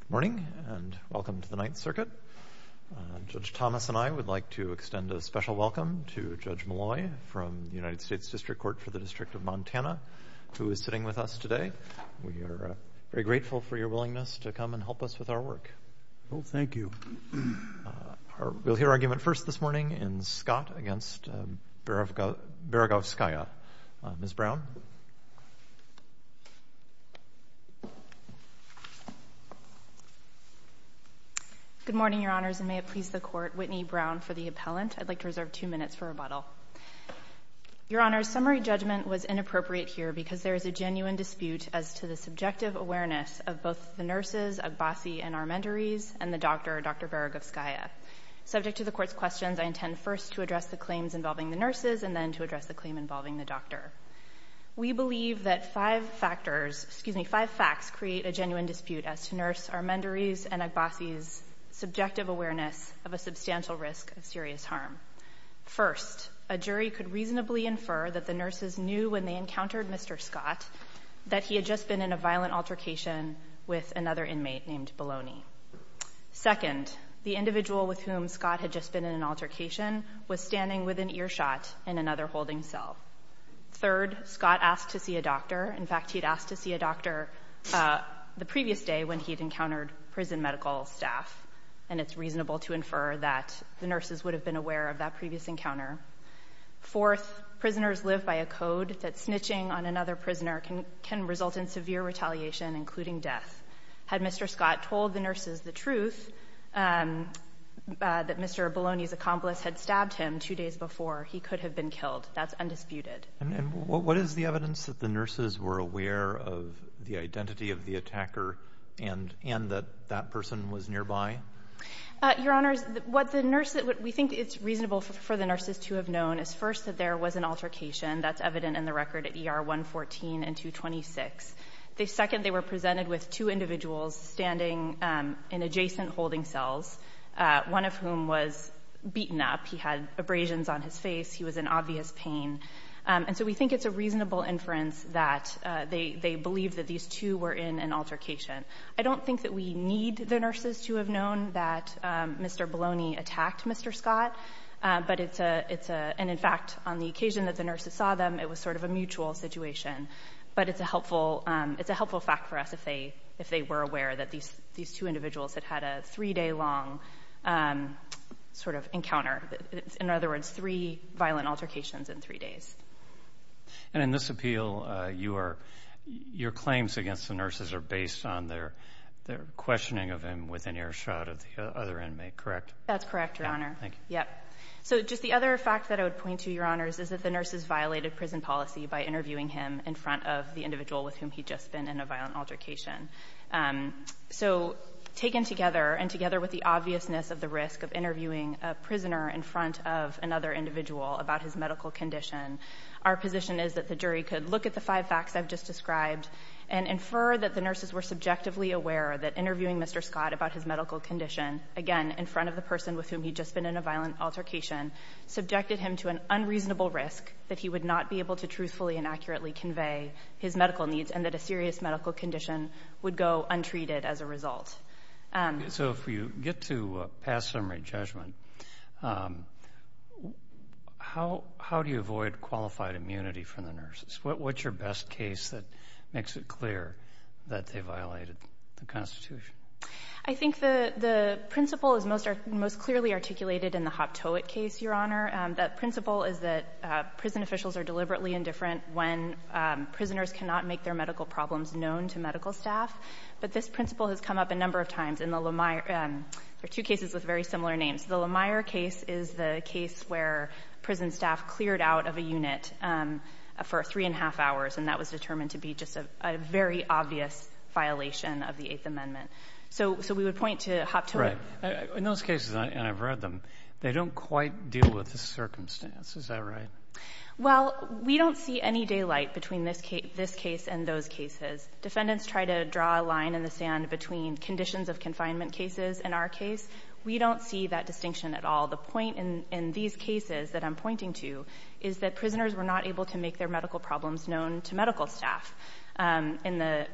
Good morning and welcome to the Ninth Circuit. Judge Thomas and I would like to extend a special welcome to Judge Malloy from the United States District Court for the District of Montana, who is sitting with us today. We are very grateful for your willingness to come and help us with our work. Well, thank you. We'll hear argument first this morning in Scott v. Beregovskaya. Ms. Brown. Good morning, Your Honors, and may it please the Court, Whitney Brown for the appellant. I'd like to reserve two minutes for rebuttal. Your Honors, summary judgment was inappropriate here because there is a genuine dispute as to the subjective awareness of both the nurses, agbasi, and our mentorees, and the doctor, Dr. Beregovskaya. Subject to the Court's questions, I intend first to address the claims involving the nurses and then to address the claim involving the doctor. We believe that five factors, excuse me, five facts create a genuine dispute as to nurse, our mentorees, and agbasi's subjective awareness of a substantial risk of serious harm. First, a jury could reasonably infer that the nurses knew when they encountered Mr. Scott that he had just been in a violent altercation with another inmate named Baloney. Second, the individual with whom Scott had just been in an altercation was standing with an earshot in another holding cell. Third, Scott asked to see a doctor. In fact, he'd asked to see a doctor the previous day when he'd encountered prison medical staff, and it's reasonable to infer that the nurses would have been aware of that previous encounter. Fourth, prisoners live by a code that snitching on another prisoner can result in severe retaliation, including death. Had Mr. Scott told the nurses the truth, that Mr. Baloney's accomplice had stabbed him two days before, he could have been killed. That's undisputed. And what is the evidence that the nurses were aware of the identity of the attacker and that that person was nearby? Your Honors, what the nurse that we think it's reasonable for the nurses to have known is first that there was an altercation. That's evident in the record at ER 114 and 226. Second, they were presented with two individuals standing in adjacent holding cells, one of whom was beaten up. He had abrasions on his face. He was in obvious pain. And so we think it's a reasonable inference that they believed that these two were in an altercation. I don't think that we need the nurses to have known that Mr. Baloney attacked Mr. Scott, and in fact, on the occasion that the nurses saw them, it was sort of a mutual situation. But it's a helpful fact for us if they were aware that these two individuals had had a three-day long sort of encounter. In other words, three violent altercations in three days. And in this appeal, your claims against the nurses are based on their questioning of him with an air shot of the other inmate, correct? That's correct, Your Honor. Thank you. So just the other fact that I would point to, Your Honors, is that the nurses violated prison policy by interviewing him in front of the individual with whom he'd just been in a violent altercation. So taken together and together with the obviousness of the risk of interviewing a prisoner in front of another individual about his medical condition, our position is that the jury could look at the five facts I've just described and infer that the nurses were subjectively aware that interviewing Mr. Scott about his medical condition, again, in front of the person with whom he'd just been in a violent altercation, subjected him to an unreasonable risk that he would not be able to truthfully and accurately convey his medical needs and that a serious medical condition would go untreated as a result. So if you get to pass summary judgment, how do you avoid qualified immunity from the nurses? What's your best case that makes it clear that they violated the Constitution? I think the principle is most clearly articulated in the Hoptowit case, Your Honor. That principle is that prison officials are deliberately indifferent when prisoners cannot make their medical problems known to medical staff. But this principle has come up a number of times. There are two cases with very similar names. The Lemire case is the case where prison staff cleared out of a unit for three and a half hours, and that was determined to be just a very obvious violation of the Constitution. So we would point to Hoptowit. Right. In those cases, and I've read them, they don't quite deal with the circumstances. Is that right? Well, we don't see any daylight between this case and those cases. Defendants try to draw a line in the sand between conditions of confinement cases in our case. We don't see that distinction at all. The point in these cases that I'm pointing to is that prisoners were not able to make their medical problems known to medical staff. In the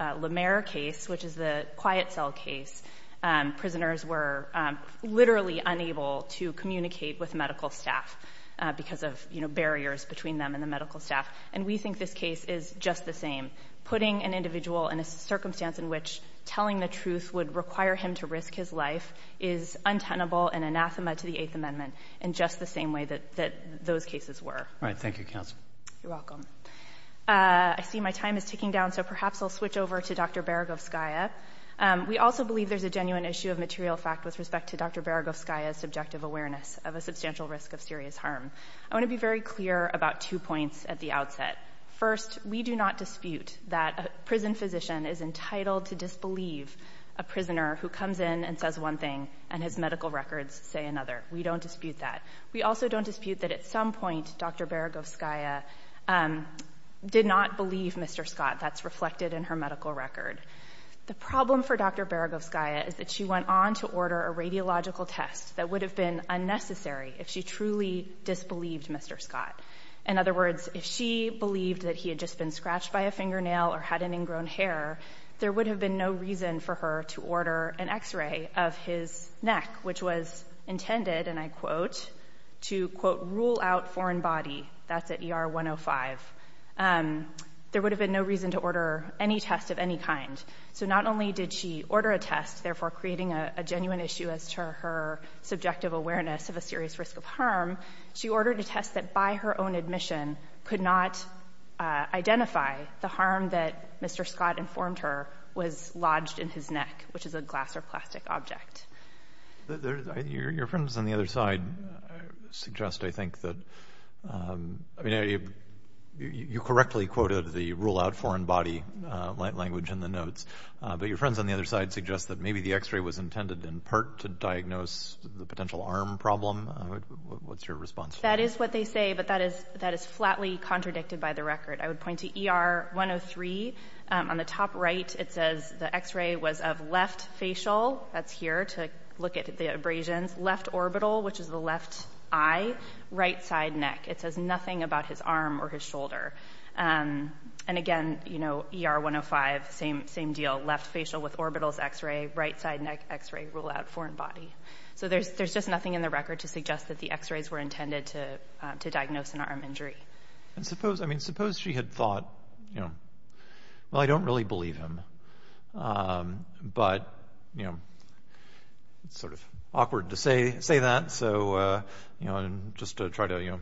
Lemire case, which is the quiet cell case, prisoners were literally unable to communicate with medical staff because of, you know, barriers between them and the medical staff. And we think this case is just the same. Putting an individual in a circumstance in which telling the truth would require him to risk his life is untenable and anathema to the Eighth Amendment in just the same way that those cases were. All right. Thank you, counsel. You're welcome. I see my time is ticking down, so perhaps I'll switch over to Dr. Beregovskaya. We also believe there's a genuine issue of material fact with respect to Dr. Beregovskaya's subjective awareness of a substantial risk of serious harm. I want to be very clear about two points at the outset. First, we do not dispute that a prison physician is entitled to disbelieve a prisoner who comes in and says one thing and his medical records say another. We don't dispute that. We also don't dispute that at some point Dr. Beregovskaya did not believe Mr. Scott. That's reflected in her medical record. The problem for Dr. Beregovskaya is that she went on to order a radiological test that would have been unnecessary if she truly disbelieved Mr. Scott. In other words, if she believed that he had just been scratched by a fingernail or had an ingrown hair, there would have been no reason for her to order an X-ray of his neck, which was intended, and I quote, to, quote, rule out foreign body. That's at ER 105. There would have been no reason to order any test of any kind. So not only did she order a test, therefore creating a genuine issue as to her subjective awareness of a serious risk of harm, she ordered a test that by her own admission could not identify the harm that Mr. Scott informed her was lodged in his neck, which is a glass or plastic object. Your friends on the other side suggest, I think, that you correctly quoted the rule out foreign body language in the notes, but your friends on the other side suggest that maybe the X-ray was intended in part to diagnose the potential arm problem. What's your response? That is what they say, but that is flatly contradicted by the record. I would point to ER 103. On the top right, it says the X-ray was of left facial. That's here to look at the abrasions. Left orbital, which is the left eye. Right side neck. It says nothing about his arm or his shoulder. And again, you know, ER 105, same deal. Left facial with orbitals X-ray. Right side neck X-ray. Rule out foreign body. So there's just nothing in the record to suggest that the X-rays were intended to diagnose an arm injury. And suppose, I mean, suppose she had thought, you know, well, I don't really believe him. But, you know, it's sort of awkward to say that. So, you know, just to try to, you know,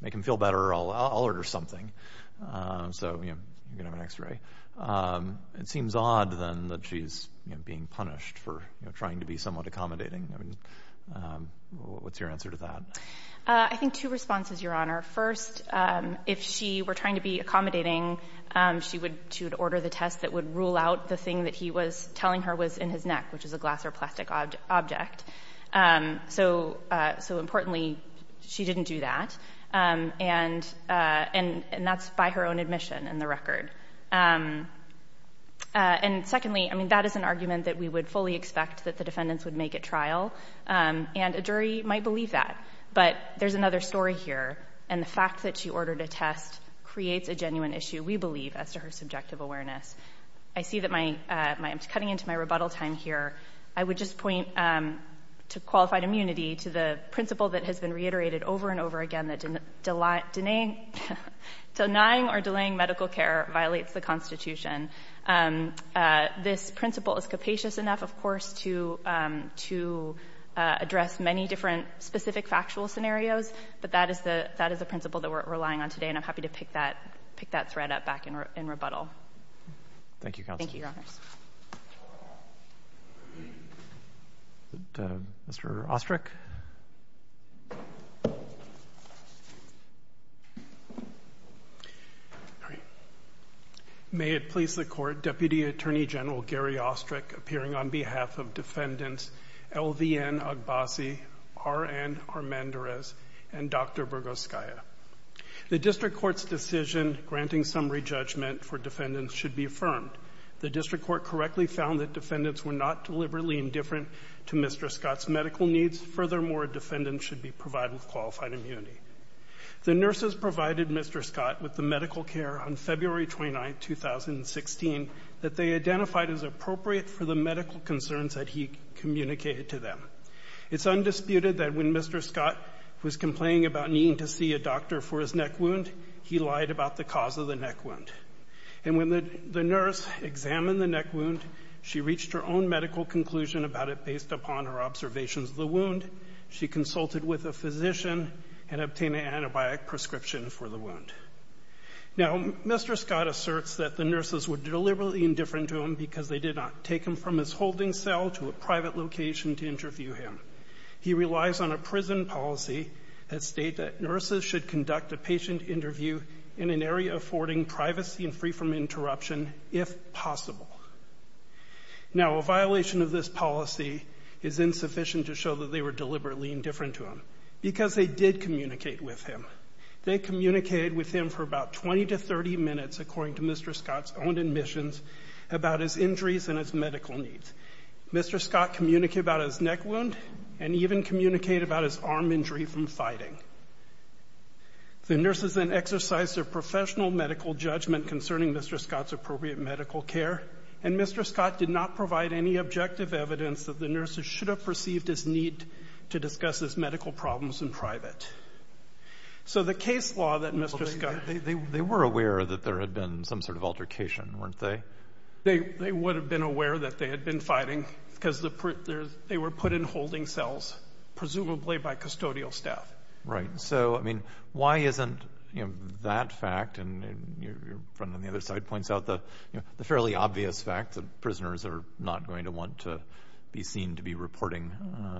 make him feel better, I'll order something. So, you know, you can have an X-ray. It seems odd, then, that she's being punished for trying to be somewhat accommodating. I mean, what's your answer to that? I think two responses, Your Honor. First, if she were trying to be accommodating, she would order the test that would rule out the thing that he was telling her was in his neck, which is a glass or plastic object. So, importantly, she didn't do that. And that's by her own admission in the record. And secondly, I mean, that is an argument that we would fully expect that the defendants would make at trial. And a jury might believe that. But there's another story here. And the fact that she ordered a test creates a genuine issue, we believe, as to her subjective awareness. I see that I'm cutting into my rebuttal time here. I would just point to qualified immunity to the principle that has been reiterated over and over again, that denying or delaying medical care violates the Constitution. This principle is capacious enough, of course, to address many different specific factual scenarios. But that is the principle that we're relying on today. And I'm happy to pick that thread up back in rebuttal. Thank you, Counsel. Thank you, Your Honors. Mr. Ostrich? Ostrich. May it please the Court, Deputy Attorney General Gary Ostrich, appearing on behalf of Defendants LVN Agbasi, RN Armandarez, and Dr. Burgoskaya. The district court's decision granting summary judgment for defendants should be affirmed. The district court correctly found that defendants were not deliberately indifferent to Mr. Scott's medical needs. Furthermore, defendants should be provided with qualified immunity. The nurses provided Mr. Scott with the medical care on February 29, 2016, that they identified as appropriate for the medical concerns that he communicated to them. It's undisputed that when Mr. Scott was complaining about needing to see a doctor for his neck wound, he lied about the cause of the neck wound. And when the nurse examined the neck wound, she reached her own medical conclusion about it based upon her observations of the wound. She consulted with a physician and obtained an antibiotic prescription for the wound. Now, Mr. Scott asserts that the nurses were deliberately indifferent to him because they did not take him from his holding cell to a private location to interview him. He relies on a prison policy that states that nurses should conduct a patient interview in an area affording privacy and free from interruption if possible. Now, a violation of this policy is insufficient to show that they were deliberately indifferent to him because they did communicate with him. They communicated with him for about 20 to 30 minutes, according to Mr. Scott's own admissions, about his injuries and his medical needs. Mr. Scott communicated about his neck wound and even communicated about his arm injury from fighting. The nurses then exercised their professional medical judgment concerning Mr. Scott's appropriate medical care, and Mr. Scott did not provide any objective evidence that the nurses should have perceived his need to discuss his medical problems in private. So the case law that Mr. Scott ---- They were aware that there had been some sort of altercation, weren't they? They would have been aware that they had been fighting because they were put in holding cells, presumably by custodial staff. So, I mean, why isn't that fact, and your friend on the other side points out the fairly obvious fact that prisoners are not going to want to be seen to be reporting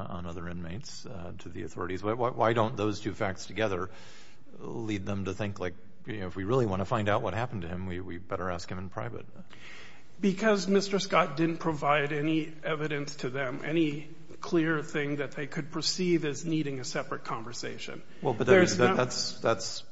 on other inmates to the authorities. Why don't those two facts together lead them to think, like, if we really want to find out what happened to him, we better ask him in private? Because Mr. Scott didn't provide any evidence to them, any clear thing that they could perceive as needing a separate conversation. Well, but that's,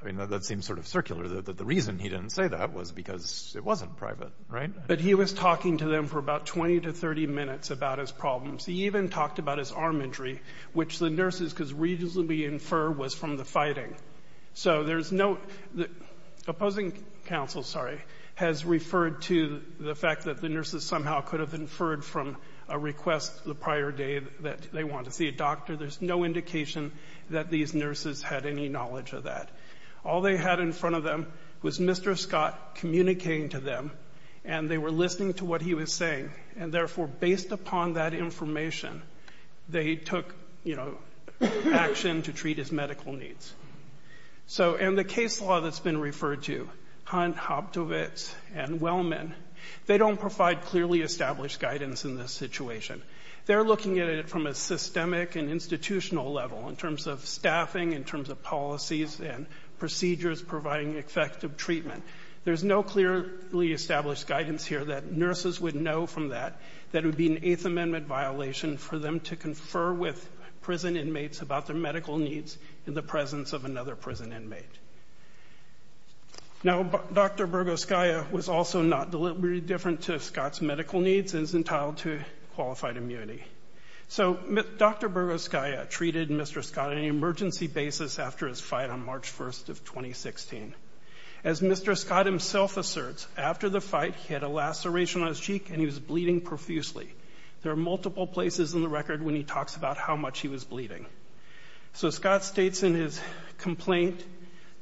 I mean, that seems sort of circular, that the reason he didn't say that was because it wasn't private, right? But he was talking to them for about 20 to 30 minutes about his problems. He even talked about his arm injury, which the nurses could reasonably infer was from the fighting. So there's no opposing counsel, sorry, has referred to the fact that the nurses somehow could have inferred from a request the prior day that they wanted to see a doctor. There's no indication that these nurses had any knowledge of that. All they had in front of them was Mr. Scott communicating to them, and they were listening to what he was saying. And therefore, based upon that information, they took, you know, action to treat his medical needs. So in the case law that's been referred to, Hunt, Hobtovitz, and Wellman, they don't provide clearly established guidance in this situation. They're looking at it from a systemic and institutional level, in terms of staffing, in terms of policies and procedures providing effective treatment. There's no clearly established guidance here that nurses would know from that that it would be an Eighth Amendment violation for them to confer with prison inmates about their medical needs in the presence of another prison inmate. Now, Dr. Burgoskaya was also not deliberately different to Scott's medical needs and is entitled to qualified immunity. So Dr. Burgoskaya treated Mr. Scott on an emergency basis after his fight on March 1st of 2016. As Mr. Scott himself asserts, after the fight, he had a laceration on his cheek, and he was bleeding profusely. There are multiple places in the record when he talks about how much he was bleeding. So Scott states in his complaint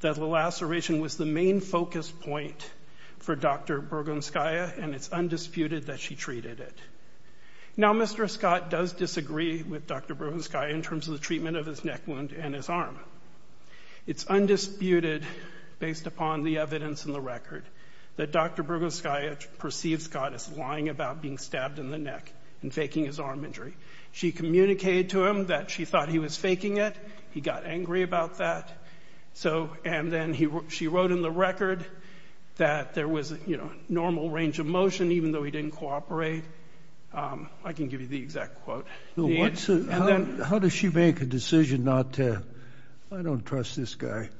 that the laceration was the main focus point for Dr. Burgoskaya, and it's undisputed that she treated it. Now, Mr. Scott does disagree with Dr. Burgoskaya in terms of the treatment of his neck wound and his arm. It's undisputed, based upon the evidence in the record, that Dr. Burgoskaya perceives Scott as lying about being stabbed in the neck and faking his arm injury. She communicated to him that she thought he was faking it. He got angry about that. And then she wrote in the record that there was, you know, normal range of motion, even though he didn't cooperate. I can give you the exact quote. How does she make a decision not to, I don't trust this guy,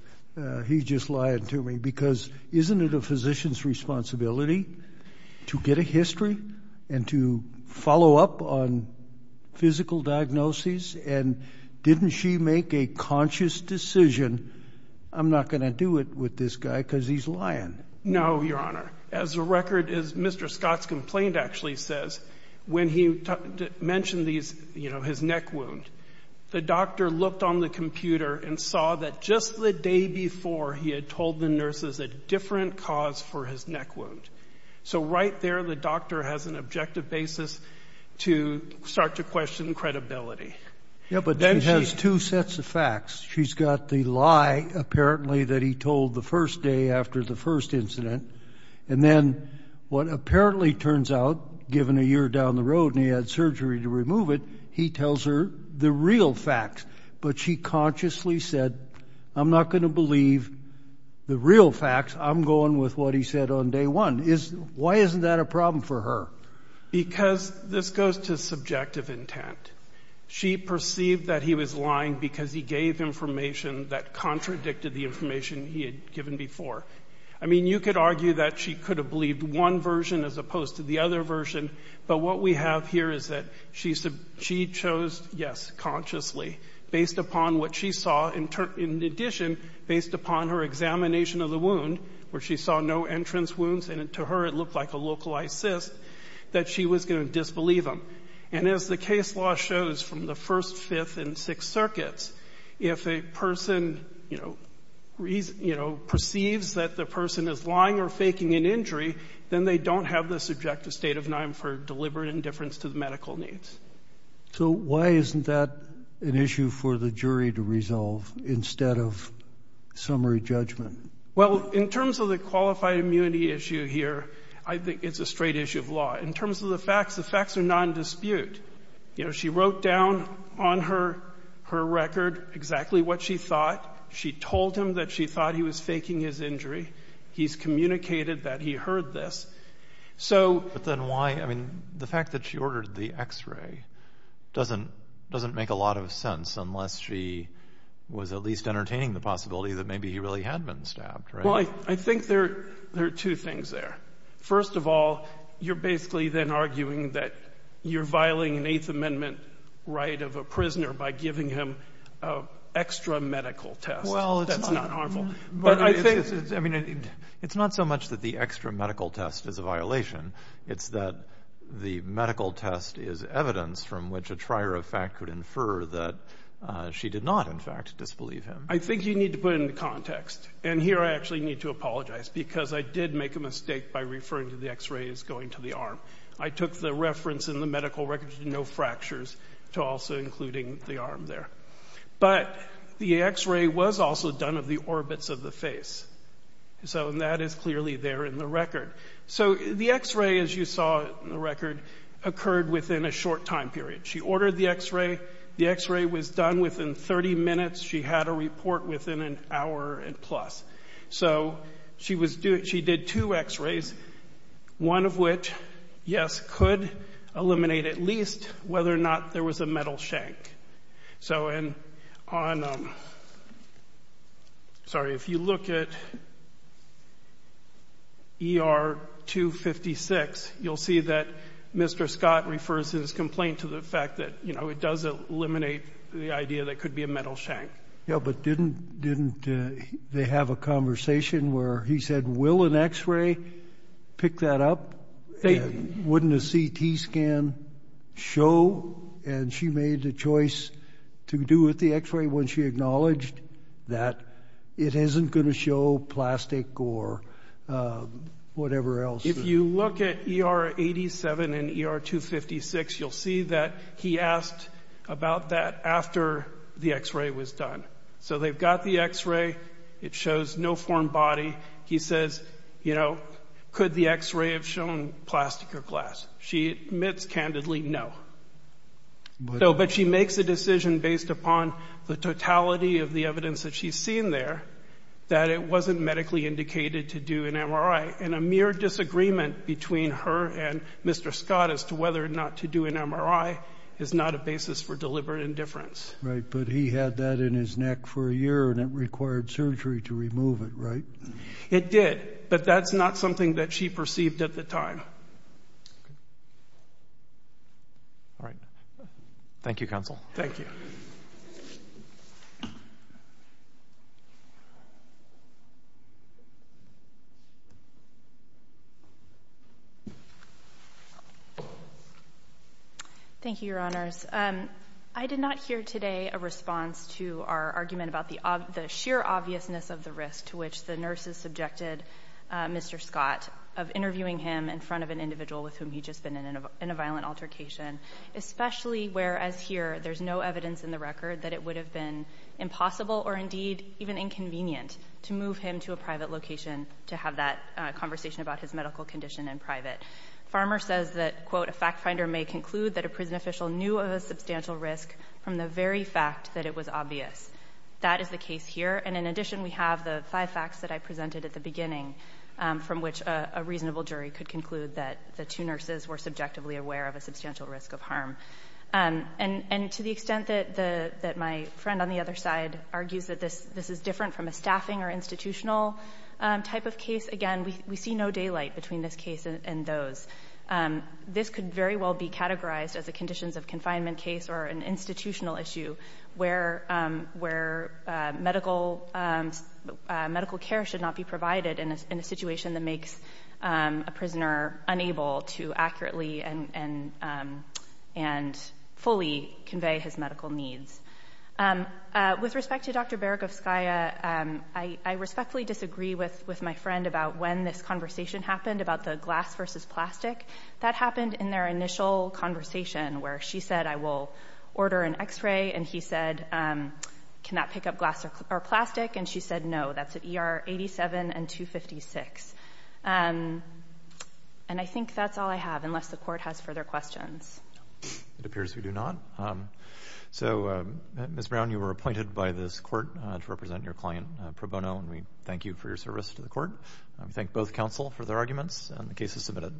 he's just lying to me? Because isn't it a physician's responsibility to get a history and to follow up on physical diagnoses? And didn't she make a conscious decision, I'm not going to do it with this guy because he's lying? No, Your Honor. As a record, as Mr. Scott's complaint actually says, when he mentioned these, you know, his neck wound, the doctor looked on the computer and saw that just the day before, he had told the nurses a different cause for his neck wound. So right there the doctor has an objective basis to start to question credibility. Yeah, but then she has two sets of facts. She's got the lie apparently that he told the first day after the first incident. And then what apparently turns out, given a year down the road and he had surgery to remove it, he tells her the real facts. But she consciously said, I'm not going to believe the real facts. I'm going with what he said on day one. Why isn't that a problem for her? Because this goes to subjective intent. She perceived that he was lying because he gave information that contradicted the information he had given before. I mean, you could argue that she could have believed one version as opposed to the other version, but what we have here is that she chose, yes, consciously, based upon what she saw, in addition, based upon her examination of the wound where she saw no entrance wounds and to her it looked like a localized cyst, that she was going to disbelieve him. And as the case law shows from the First, Fifth, and Sixth Circuits, if a person, you know, perceives that the person is lying or faking an injury, then they don't have the subjective state of mind for deliberate indifference to the medical needs. So why isn't that an issue for the jury to resolve instead of summary judgment? Well, in terms of the qualified immunity issue here, I think it's a straight issue of law. In terms of the facts, the facts are non-dispute. You know, she wrote down on her record exactly what she thought. She told him that she thought he was faking his injury. He's communicated that he heard this. But then why, I mean, the fact that she ordered the X-ray doesn't make a lot of sense unless she was at least entertaining the possibility that maybe he really had been stabbed, right? Well, I think there are two things there. First of all, you're basically then arguing that you're violating an Eighth Amendment right of a prisoner by giving him an extra medical test that's not harmful. But I think it's not so much that the extra medical test is a violation. It's that the medical test is evidence from which a trier of fact could infer that she did not, in fact, disbelieve him. I think you need to put it into context. And here I actually need to apologize because I did make a mistake by referring to the X-ray as going to the arm. I took the reference in the medical record to no fractures, to also including the arm there. But the X-ray was also done of the orbits of the face. So that is clearly there in the record. So the X-ray, as you saw in the record, occurred within a short time period. She ordered the X-ray. The X-ray was done within 30 minutes. She had a report within an hour and plus. So she did two X-rays, one of which, yes, could eliminate at least whether or not there was a metal shank. So on, sorry, if you look at ER-256, you'll see that Mr. Scott refers his complaint to the fact that, you know, it does eliminate the idea that it could be a metal shank. Yeah, but didn't they have a conversation where he said, will an X-ray pick that up? Wouldn't a CT scan show? And she made the choice to do with the X-ray when she acknowledged that it isn't going to show plastic or whatever else. If you look at ER-87 and ER-256, you'll see that he asked about that after the X-ray was done. So they've got the X-ray. It shows no formed body. He says, you know, could the X-ray have shown plastic or glass? She admits candidly no. But she makes a decision based upon the totality of the evidence that she's seen there that it wasn't medically indicated to do an MRI. And a mere disagreement between her and Mr. Scott as to whether or not to do an MRI is not a basis for deliberate indifference. Right, but he had that in his neck for a year and it required surgery to remove it, right? It did, but that's not something that she perceived at the time. All right. Thank you, Counsel. Thank you. Thank you, Your Honors. I did not hear today a response to our argument about the sheer obviousness of the risk to which the nurses subjected Mr. Scott of interviewing him in front of an individual with whom he'd just been in a violent altercation, especially whereas here there's no evidence in the record that it would have been impossible or indeed even inconvenient to move him to a private location to have that conversation about his medical condition in private. Farmer says that, quote, a fact finder may conclude that a prison official knew of a substantial risk from the very fact that it was obvious. That is the case here. And in addition, we have the five facts that I presented at the beginning, from which a reasonable jury could conclude that the two nurses were subjectively aware of a substantial risk of harm. And to the extent that my friend on the other side argues that this is different from a staffing or institutional type of case, again, we see no daylight between this case and those. This could very well be categorized as a conditions of confinement case or an institutional issue where medical care should not be provided in a situation that makes a prisoner unable to accurately and fully convey his medical needs. With respect to Dr. Beregovskaya, I respectfully disagree with my friend about when this conversation happened about the glass versus plastic. That happened in their initial conversation where she said, I will order an x-ray, and he said, can that pick up glass or plastic? And she said, no, that's at ER 87 and 256. And I think that's all I have, unless the court has further questions. It appears we do not. So, Ms. Brown, you were appointed by this court to represent your client, Pro Bono, and we thank you for your service to the court. We thank both counsel for their arguments, and the case is submitted.